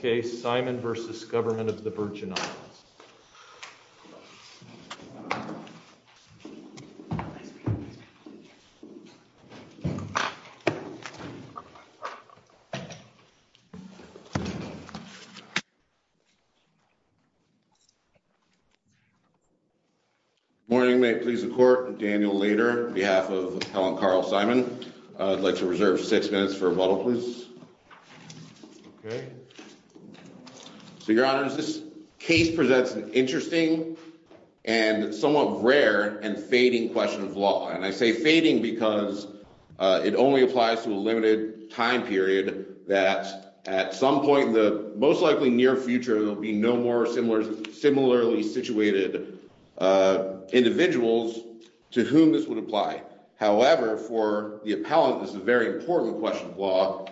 Next case, Simon v. Government of the Virgin Islands. Morning, may it please the court, Daniel Lader on behalf of Helen Carl Simon. I'd like to reserve six minutes for rebuttal please. Okay. So your honor is this case presents an interesting and somewhat rare and fading question of law and I say fading because it only applies to a limited time period that at some point in the most likely near future there'll be no more similar similarly situated individuals to whom this would apply. However, for the appellant is a very important question of law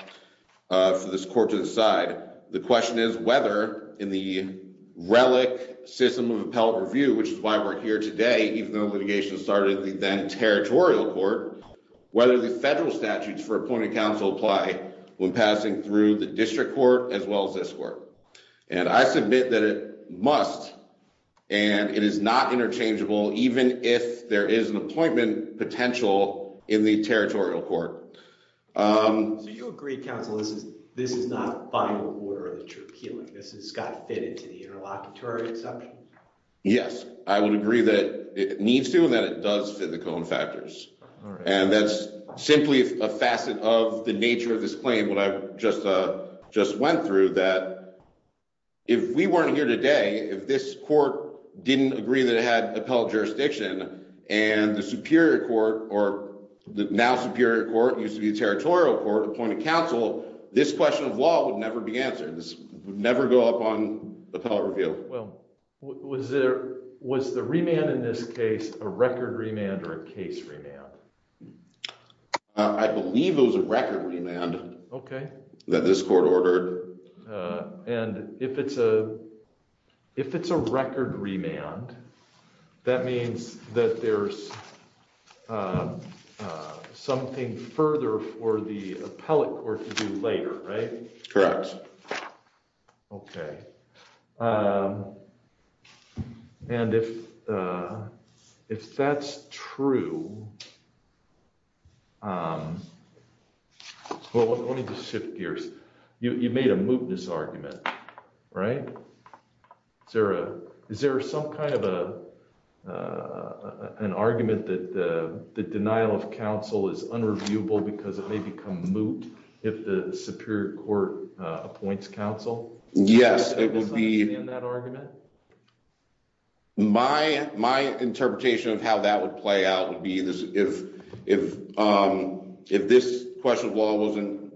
for this court to decide. The question is whether in the relic system of appellate review, which is why we're here today, even though litigation started the then territorial court. Whether the federal statutes for appointed counsel apply when passing through the district court as well as this work, and I submit that it must, and it is not interchangeable even if there is an appointment potential in the territorial court. Yes, I would agree that it needs to and that it does fit the cone factors, and that's simply a facet of the nature of this claim what I've just just went through that. Was there was the remand in this case, a record remand or a case remand. I believe it was a record remand. Okay, that this court ordered. And if it's a, if it's a record remand. That means that there's something further for the appellate court to do later. Right. Correct. Okay. And if, if that's true. Well, let me just shift gears, you made a mootness argument. Right. Sarah, is there some kind of a, an argument that the denial of counsel is unreviewable because it may become moot. If the Superior Court appoints counsel. Yes, it will be in that argument. My, my interpretation of how that would play out would be this. If, if, if this question of law wasn't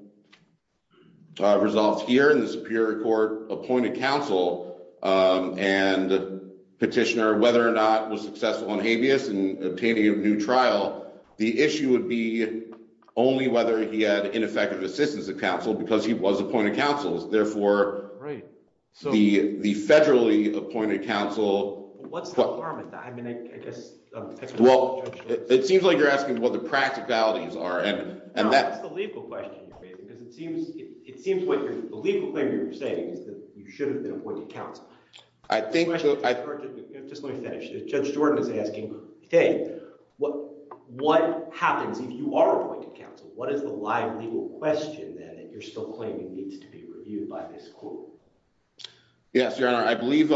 resolved here in the Superior Court appointed counsel and petitioner whether or not was successful on habeas and obtaining a new trial. The issue would be only whether he had ineffective assistance of counsel because he was appointed counsel's therefore. Right. So, the, the federally appointed counsel. What's the harm in that. I mean, I guess. Well, it seems like you're asking what the practicalities are and, and that's the legal question. It seems like the legal thing you're saying is that you should have been appointed counsel. I think I just want to finish the judge Jordan is asking, Hey, what, what happens if you are appointed counsel, what is the live legal question that you're still claiming needs to be reviewed by this court. Yes, your honor. I believe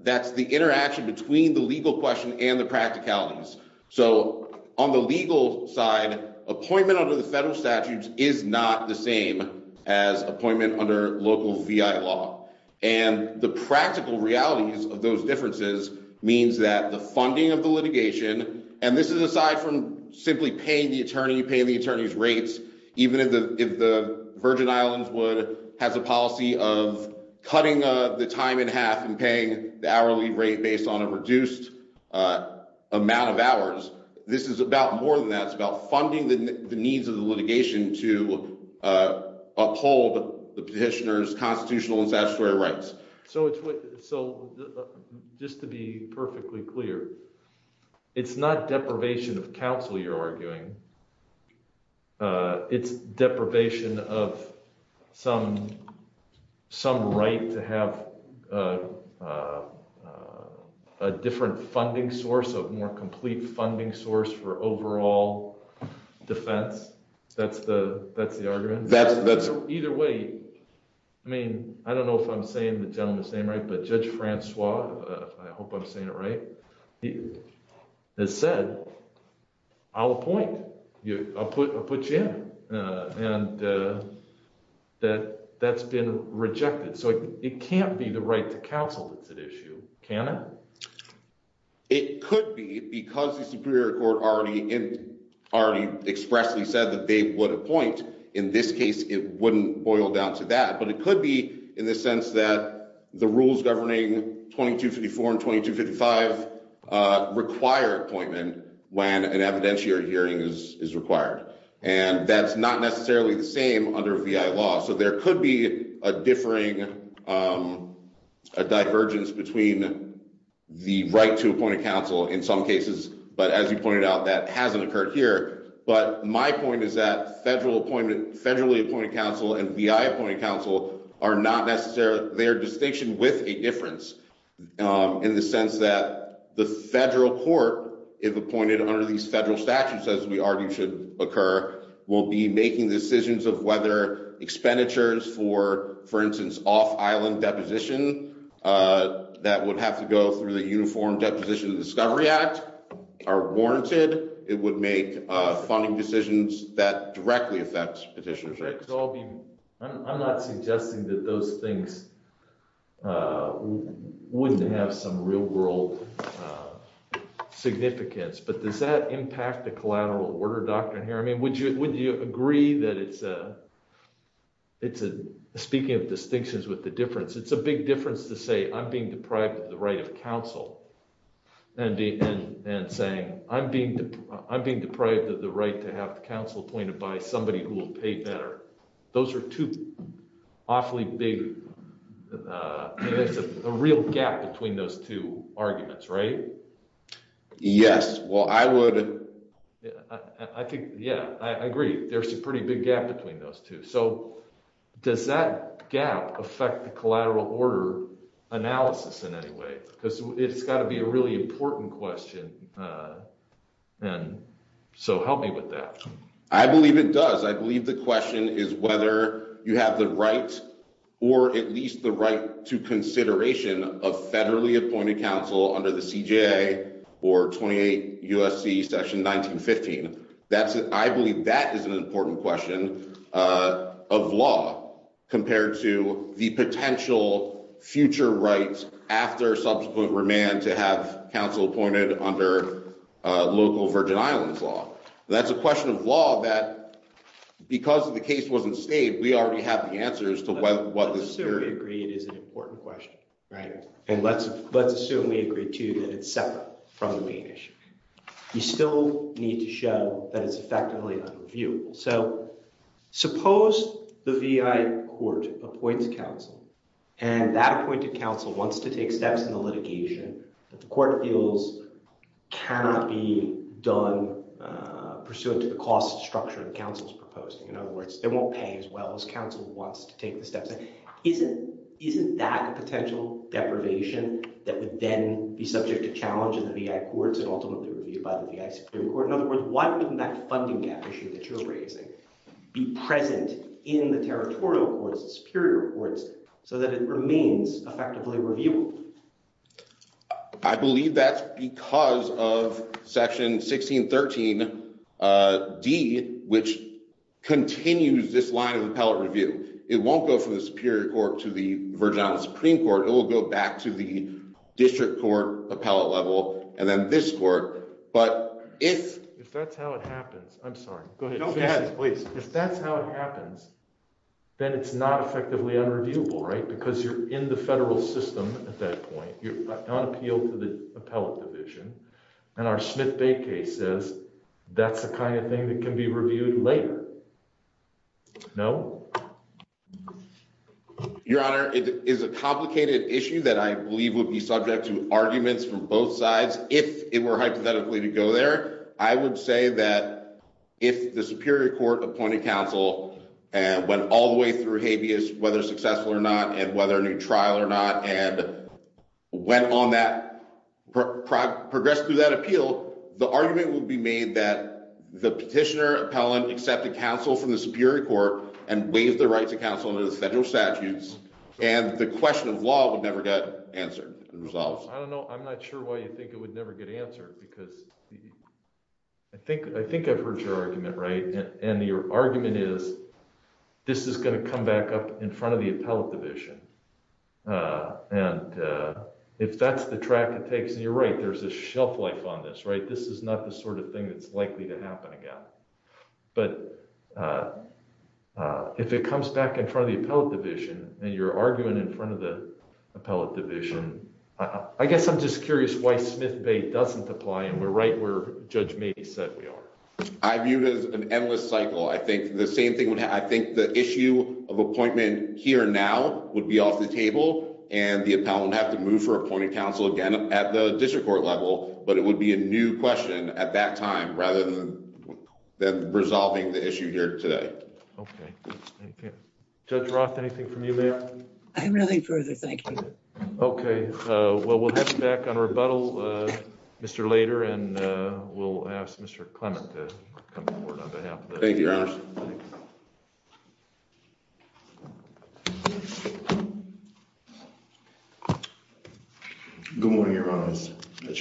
that's the interaction between the legal question and the practicalities. So, on the legal side appointment under the federal statutes is not the same as appointment under local law. And the practical realities of those differences means that the funding of the litigation, and this is aside from simply paying the attorney paying the attorneys rates, even if the, if the Virgin Islands would has a policy of cutting the time in half and paying the hourly rate based on a reduced amount of hours. This is about more than that's about funding the needs of the litigation to uphold the petitioners constitutional and statutory rights. So it's so just to be perfectly clear. It's not deprivation of counsel you're arguing. It's deprivation of some, some right to have a different funding source of more complete funding source for overall defense. That's the, that's the argument that's either way. I mean, I don't know if I'm saying the gentleman's name right but Judge Francois, I hope I'm saying it right. It said, I'll appoint you, I'll put a put you in, and that that's been rejected so it can't be the right to counsel that's at issue, can it. It could be because the Superior Court already in already expressly said that they would appoint. In this case, it wouldn't boil down to that but it could be in the sense that the rules governing 2254 and 2255 required appointment, when an evidentiary hearing is required, and that's not necessarily the same under VI law so there could be a differing. Divergence between the right to appoint a counsel in some cases, but as you pointed out that hasn't occurred here, but my point is that federal appointment federally appointed counsel and VI appointed counsel are not necessarily their distinction with a difference. In the sense that the federal court, if appointed under these federal statutes as we argue should occur, will be making decisions of whether expenditures for, for instance, off island deposition. That would have to go through the uniform deposition of Discovery Act are warranted, it would make funding decisions that directly affects petitioners. I'm not suggesting that those things wouldn't have some real world significance but does that impact the collateral order doctrine here I mean would you would you agree that it's a, it's a speaking of distinctions with the difference it's a big difference to say I'm being deprived of the right of counsel. And the end and saying, I'm being, I'm being deprived of the right to have counsel pointed by somebody who will pay better. Those are two awfully big. A real gap between those two arguments right. Yes, well I would. I think, yeah, I agree, there's a pretty big gap between those two so does that gap affect the collateral order analysis in any way, because it's got to be a really important question. And so help me with that. I believe it does I believe the question is whether you have the right, or at least the right to consideration of federally appointed counsel under the CJ or 28 USC section 1915. That's it. I believe that is an important question of law, compared to the potential future right after subsequent remand to have counsel appointed under local Virgin Islands law. That's a question of law that, because of the case wasn't stayed we already have the answers to what was agreed is an important question. Right. And let's, let's assume we agree to that it's separate from the main issue. You still need to show that it's effectively unreviewable. So, suppose, the VI court appoints counsel, and that appointed counsel wants to take steps in the litigation that the court feels cannot be done pursuant to the cost structure and counsel's proposing in other words they won't pay as well as counsel wants to take the steps. Isn't, isn't that a potential deprivation that would then be subject to challenge in the courts and ultimately reviewed by the court in other words why wouldn't that funding gap issue that you're raising be present in the territorial courts superior courts, so that it remains effectively review. I believe that's because of section 1613 D, which continues this line of appellate review, it won't go from the Superior Court to the Virgin Islands Supreme Court, it will go back to the district court appellate level, and then this court, but if that's how it happens. Please, if that's how it happens. Then it's not effectively unreviewable right because you're in the federal system. At that point, you're on appeal to the appellate division, and our Smith Bay case says, that's the kind of thing that can be reviewed later. No. Your honor, it is a complicated issue that I believe would be subject to arguments from both sides. If it were hypothetically to go there, I would say that if the Superior Court appointed counsel, and went all the way through habeas, whether successful or not, and whether a new trial or not, and went on that progress through that appeal, the argument will be made that the petitioner appellant accepted counsel from the Superior Court, and waived the appeal. Waived the right to counsel in the federal statutes, and the question of law would never get answered. I don't know, I'm not sure why you think it would never get answered because I think I think I've heard your argument right and your argument is, this is going to come back up in front of the appellate division. And if that's the track it takes and you're right, there's a shelf life on this right this is not the sort of thing that's likely to happen again. But if it comes back in front of the appellate division, and you're arguing in front of the appellate division. I guess I'm just curious why Smith Bay doesn't apply and we're right where Judge maybe said we are. I view it as an endless cycle. I think the same thing would happen, I think the issue of appointment here now would be off the table, and the appellant would have to move for appointing counsel again at the district court level, but it would be a new question at that time rather than resolving the issue here today. Okay. Judge Roth, anything from you ma'am? Okay, well we'll have to back on rebuttal. Mr later and we'll ask Mr. Thank you. Good morning. Good morning, your honors. The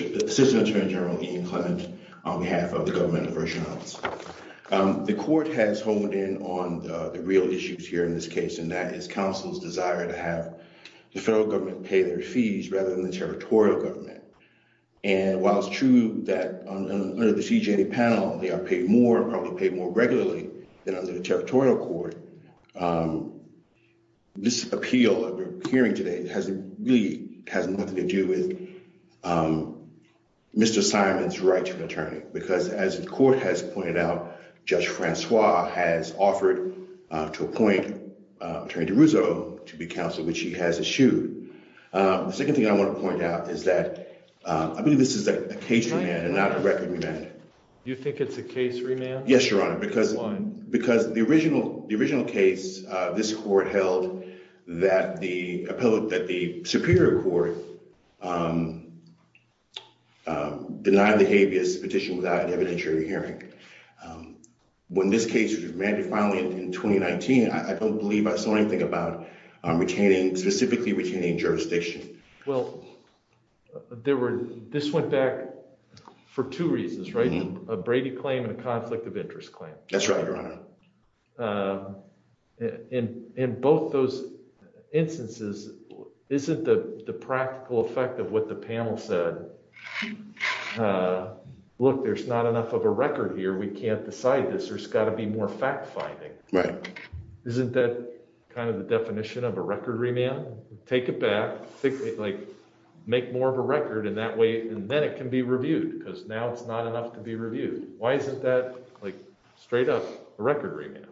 court has honed in on the real issues here in this case and that is counsel's desire to have the federal government pay their fees rather than the territorial government. And while it's true that under the CJA panel, they are paid more probably paid more regularly than under the territorial court. This appeal hearing today has really has nothing to do with Mr. Simon's right to an attorney, because as the court has pointed out, Judge Francois has offered to appoint Attorney DeRusso to be counsel, which he has issued. The second thing I want to point out is that I believe this is a case remand and not a record remand. You think it's a case remand? Yes, your honor, because the original case this court held that the superior court denied the habeas petition without an evidentiary hearing. When this case was remanded finally in 2019, I don't believe I saw anything about retaining specifically retaining jurisdiction. Well, there were this went back for two reasons, right? A Brady claim and a conflict of interest claim. That's right. In both those instances, isn't the practical effect of what the panel said? Look, there's not enough of a record here. We can't decide this. There's got to be more fact finding. Right. Isn't that kind of the definition of a record remand? Take it back like make more of a record in that way. And then it can be reviewed because now it's not enough to be reviewed. Why isn't that straight up a record remand?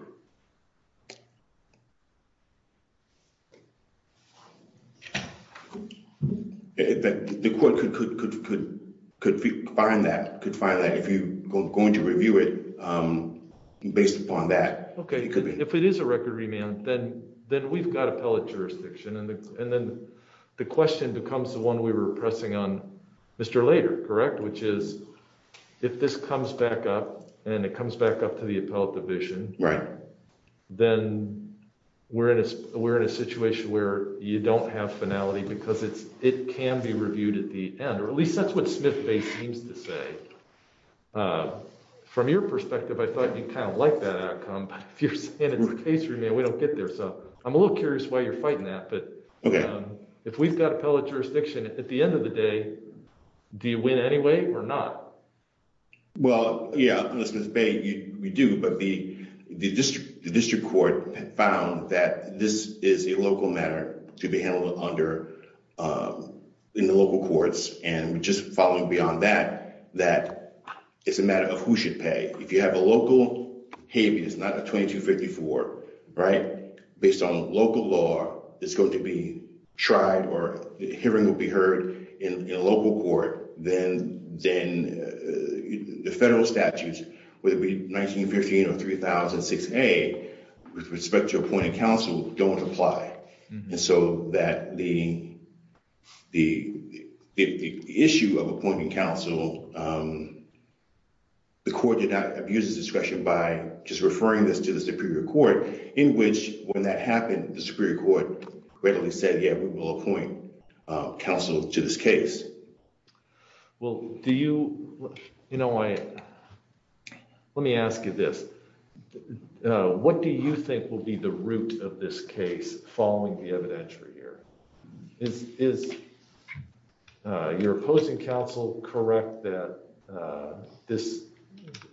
The court could find that if you're going to review it based upon that. Okay. If it is a record remand, then we've got appellate jurisdiction. And then the question becomes the one we were pressing on Mr. Later, correct? Which is if this comes back up and it comes back up to the appellate division. Right. Then we're in a we're in a situation where you don't have finality because it's it can be reviewed at the end, or at least that's what Smith Bay seems to say. From your perspective, I thought you kind of like that outcome. But if you're saying it's a case remand, we don't get there. So I'm a little curious why you're fighting that. But if we've got appellate jurisdiction at the end of the day, do you win anyway or not? Well, yeah, we do. But the district court found that this is a local matter to be handled under in the local courts. And just following beyond that, that is a matter of who should pay. If you have a local habeas, not a 2254, right, based on local law, it's going to be tried or a hearing will be heard in a local court. Then then the federal statutes would be 1915 or 3006A with respect to appointed counsel don't apply. And so that the issue of appointing counsel, the court did not abuse discretion by just referring this to the superior court in which when that happened, the superior court readily said, yeah, we will appoint counsel to this case. Well, do you know why? Let me ask you this. What do you think will be the root of this case following the evidentiary here? Is is your opposing counsel correct that this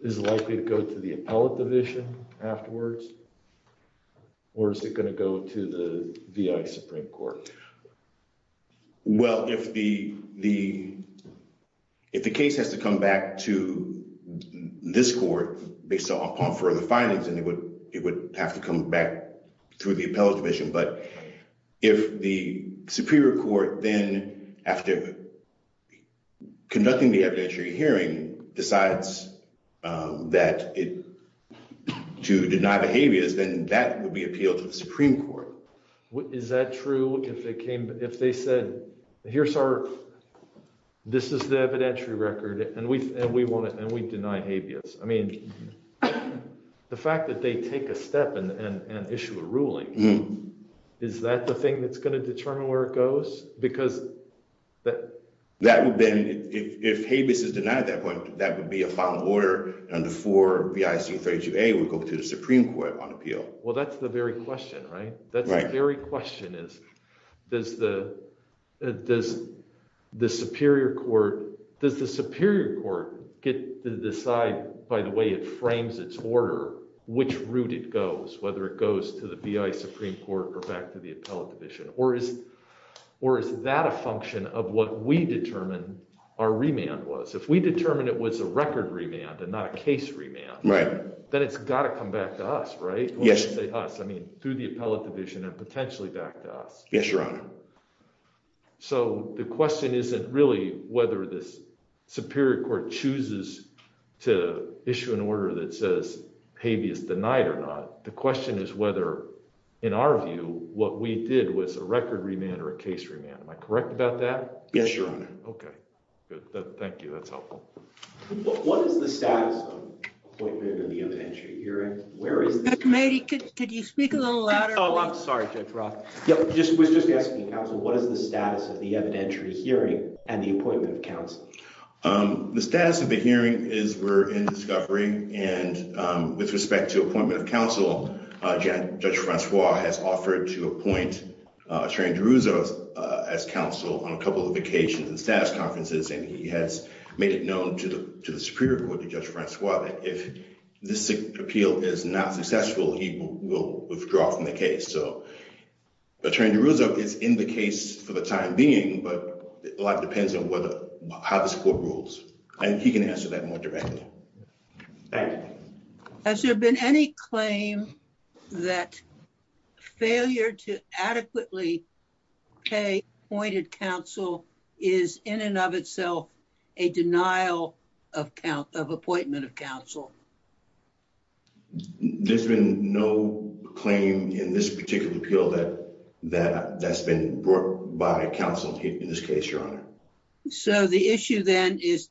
is likely to go to the appellate division afterwards? Or is it going to go to the Supreme Court? Well, if the the if the case has to come back to this court based upon further findings and it would it would have to come back through the appellate division. But if the superior court then after conducting the evidentiary hearing decides that it to deny the habeas, then that would be appealed to the Supreme Court. Is that true if they came if they said, here's our this is the evidentiary record and we and we want it and we deny habeas? I mean, the fact that they take a step and issue a ruling, is that the thing that's going to determine where it goes? Because that that would then if habeas is denied at that point, that would be a final order. And the four B.I.C. 32A would go to the Supreme Court on appeal. Well, that's the very question, right? That very question is, does the does the superior court does the superior court get to decide by the way it frames its order, which route it goes, whether it goes to the B.I. Supreme Court or back to the appellate division? Or is or is that a function of what we determine our remand was? If we determine it was a record remand and not a case remand, right, then it's got to come back to us. Right. Yes. I mean, through the appellate division and potentially back to us. Yes, Your Honor. So the question isn't really whether this superior court chooses to issue an order that says habeas denied or not. The question is whether, in our view, what we did was a record remand or a case remand. Am I correct about that? Yes, Your Honor. OK, good. Thank you. That's helpful. What is the status of the evidentiary hearing? Where is the committee? Could you speak a little louder? Oh, I'm sorry, Judge Roth. Just was just asking what is the status of the evidentiary hearing and the appointment of counsel? The status of the hearing is we're in discovery. And with respect to appointment of counsel, Judge Francois has offered to appoint Attorney DeRuzzo as counsel on a couple of occasions and status conferences. And he has made it known to the to the superior court, Judge Francois, that if this appeal is not successful, he will withdraw from the case. So Attorney DeRuzzo is in the case for the time being, but a lot depends on how this court rules. And he can answer that more directly. Thank you. Has there been any claim that failure to adequately pay appointed counsel is in and of itself a denial of appointment of counsel? There's been no claim in this particular appeal that that that's been brought by counsel in this case, Your Honor. So the issue then is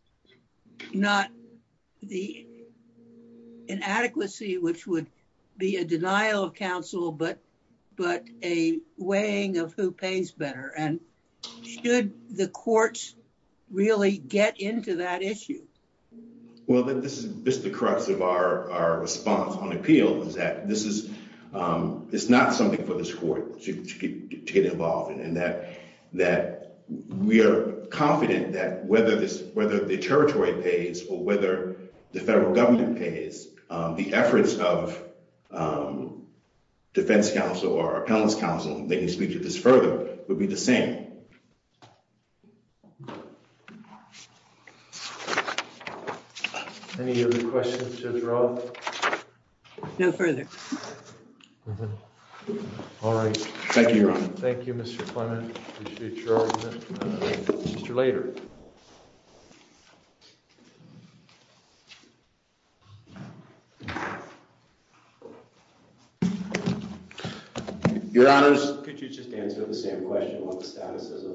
not the inadequacy, which would be a denial of counsel, but but a weighing of who pays better. And should the courts really get into that issue? Well, this is just the crux of our response on appeal is that this is it's not something for this court to get involved in, and that that we are confident that whether this whether the territory pays or whether the federal government pays, the efforts of defense counsel or appellant's counsel to speak to this further would be the same. Any other questions, Judge Roth? No further. All right. Thank you, Your Honor. Thank you, Mr. Clement. Later. Your Honor, could you just answer the same question about the status of.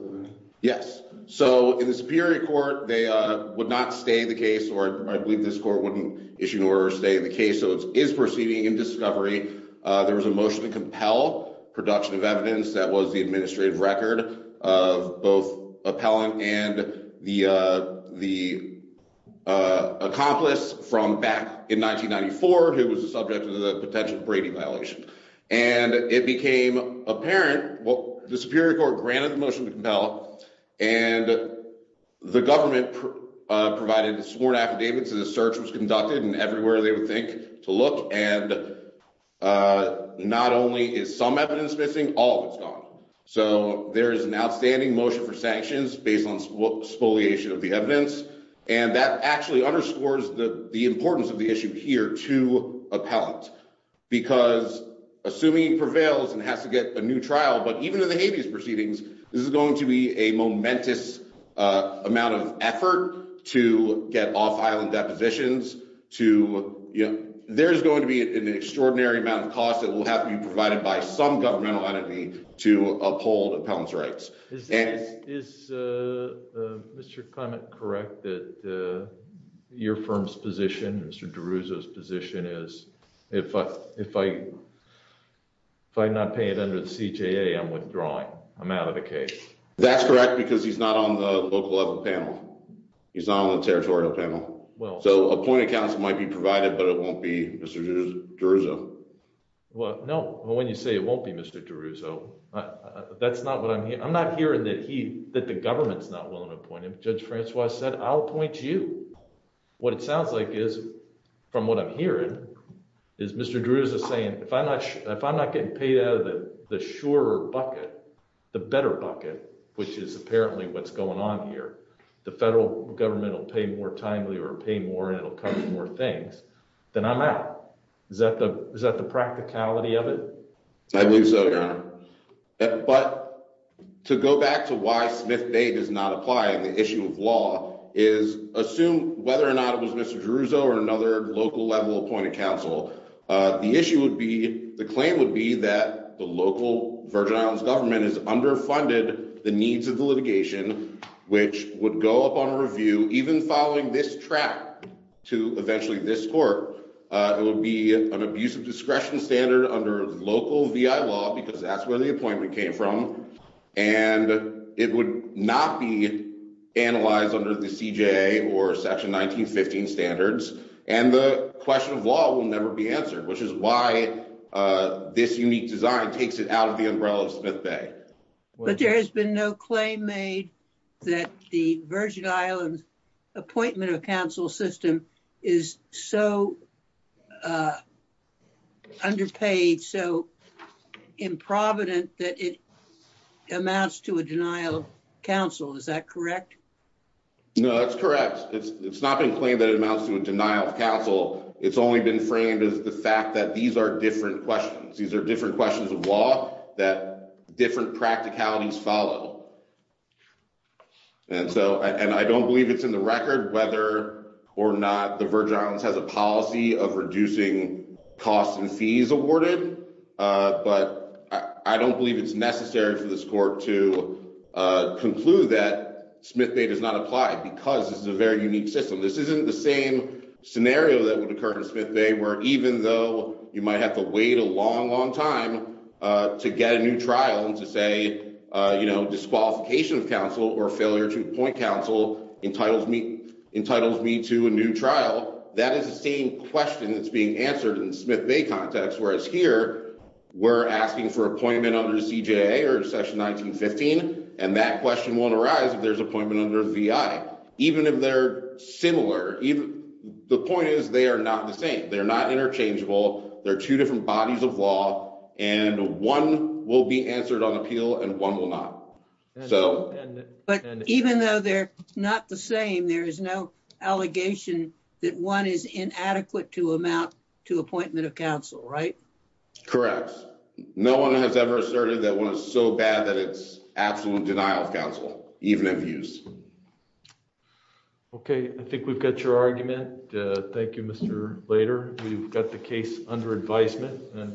Yes. So in the Superior Court, they would not stay the case or I believe this court wouldn't issue an order to stay in the case. So it is proceeding in discovery. There was a motion to compel production of evidence. That was the administrative record of both appellant and the the accomplice from back in 1994, who was the subject of the potential Brady violation. And it became apparent what the Superior Court granted the motion to compel. And the government provided sworn affidavits. The search was conducted and everywhere they would think to look. And not only is some evidence missing, all of it's gone. So there is an outstanding motion for sanctions based on spoliation of the evidence. And that actually underscores the importance of the issue here to appellate, because assuming prevails and has to get a new trial. But even in the habeas proceedings, this is going to be a momentous amount of effort to get off island depositions to. Yeah, there's going to be an extraordinary amount of cost that will have to be provided by some governmental entity to uphold appellant's rights. Is Mr. Clement correct that your firm's position, Mr. DeRouza's position is if I if I if I not pay it under the CJA, I'm withdrawing. I'm out of the case. That's correct, because he's not on the local level panel. He's on the territorial panel. Well, so a point of counsel might be provided, but it won't be Mr. DeRouza. Well, no. Well, when you say it won't be Mr. DeRouza, that's not what I mean. I'm not hearing that he that the government's not willing to appoint him. Judge Francois said, I'll appoint you. What it sounds like is from what I'm hearing is Mr. DeRouza saying, if I'm not sure if I'm not getting paid out of the sure bucket, the better bucket, which is apparently what's going on here, the federal government will pay more timely or pay more and it'll cover more things than I'm out. Is that the is that the practicality of it? I believe so. But to go back to why Smith Bay does not apply. The issue of law is assume whether or not it was Mr. DeRouza or another local level appointed counsel. The issue would be the claim would be that the local Virgin Islands government is underfunded the needs of the litigation, which would go up on a review even following this track to eventually this court. It would be an abuse of discretion standard under local law because that's where the appointment came from. And it would not be analyzed under the CJA or section 1915 standards. And the question of law will never be answered, which is why this unique design takes it out of the umbrella of Smith Bay. There has been no claim made that the Virgin Islands appointment of counsel system is so underpaid, so improvident that it amounts to a denial of counsel. Is that correct? No, that's correct. It's not been claimed that it amounts to a denial of counsel. It's only been framed as the fact that these are different questions. There's a law that different practicalities follow. And so and I don't believe it's in the record whether or not the Virgin Islands has a policy of reducing costs and fees awarded. But I don't believe it's necessary for this court to conclude that Smith Bay does not apply because it's a very unique system. This isn't the same scenario that would occur in Smith Bay, where even though you might have to wait a long, long time to get a new trial and to say, you know, disqualification of counsel or failure to appoint counsel entitles me entitles me to a new trial. That is the same question that's being answered in Smith Bay context, whereas here we're asking for appointment under the CJA or section 1915. And that question won't arise if there's appointment under VI, even if they're similar. The point is, they are not the same. They're not interchangeable. There are two different bodies of law and one will be answered on appeal and one will not. So, but even though they're not the same, there is no allegation that one is inadequate to amount to appointment of counsel. Right. Correct. No one has ever asserted that one is so bad that it's absolute denial of counsel, even if used. OK, I think we've got your argument. Thank you, Mr. Later. We've got the case under advisement.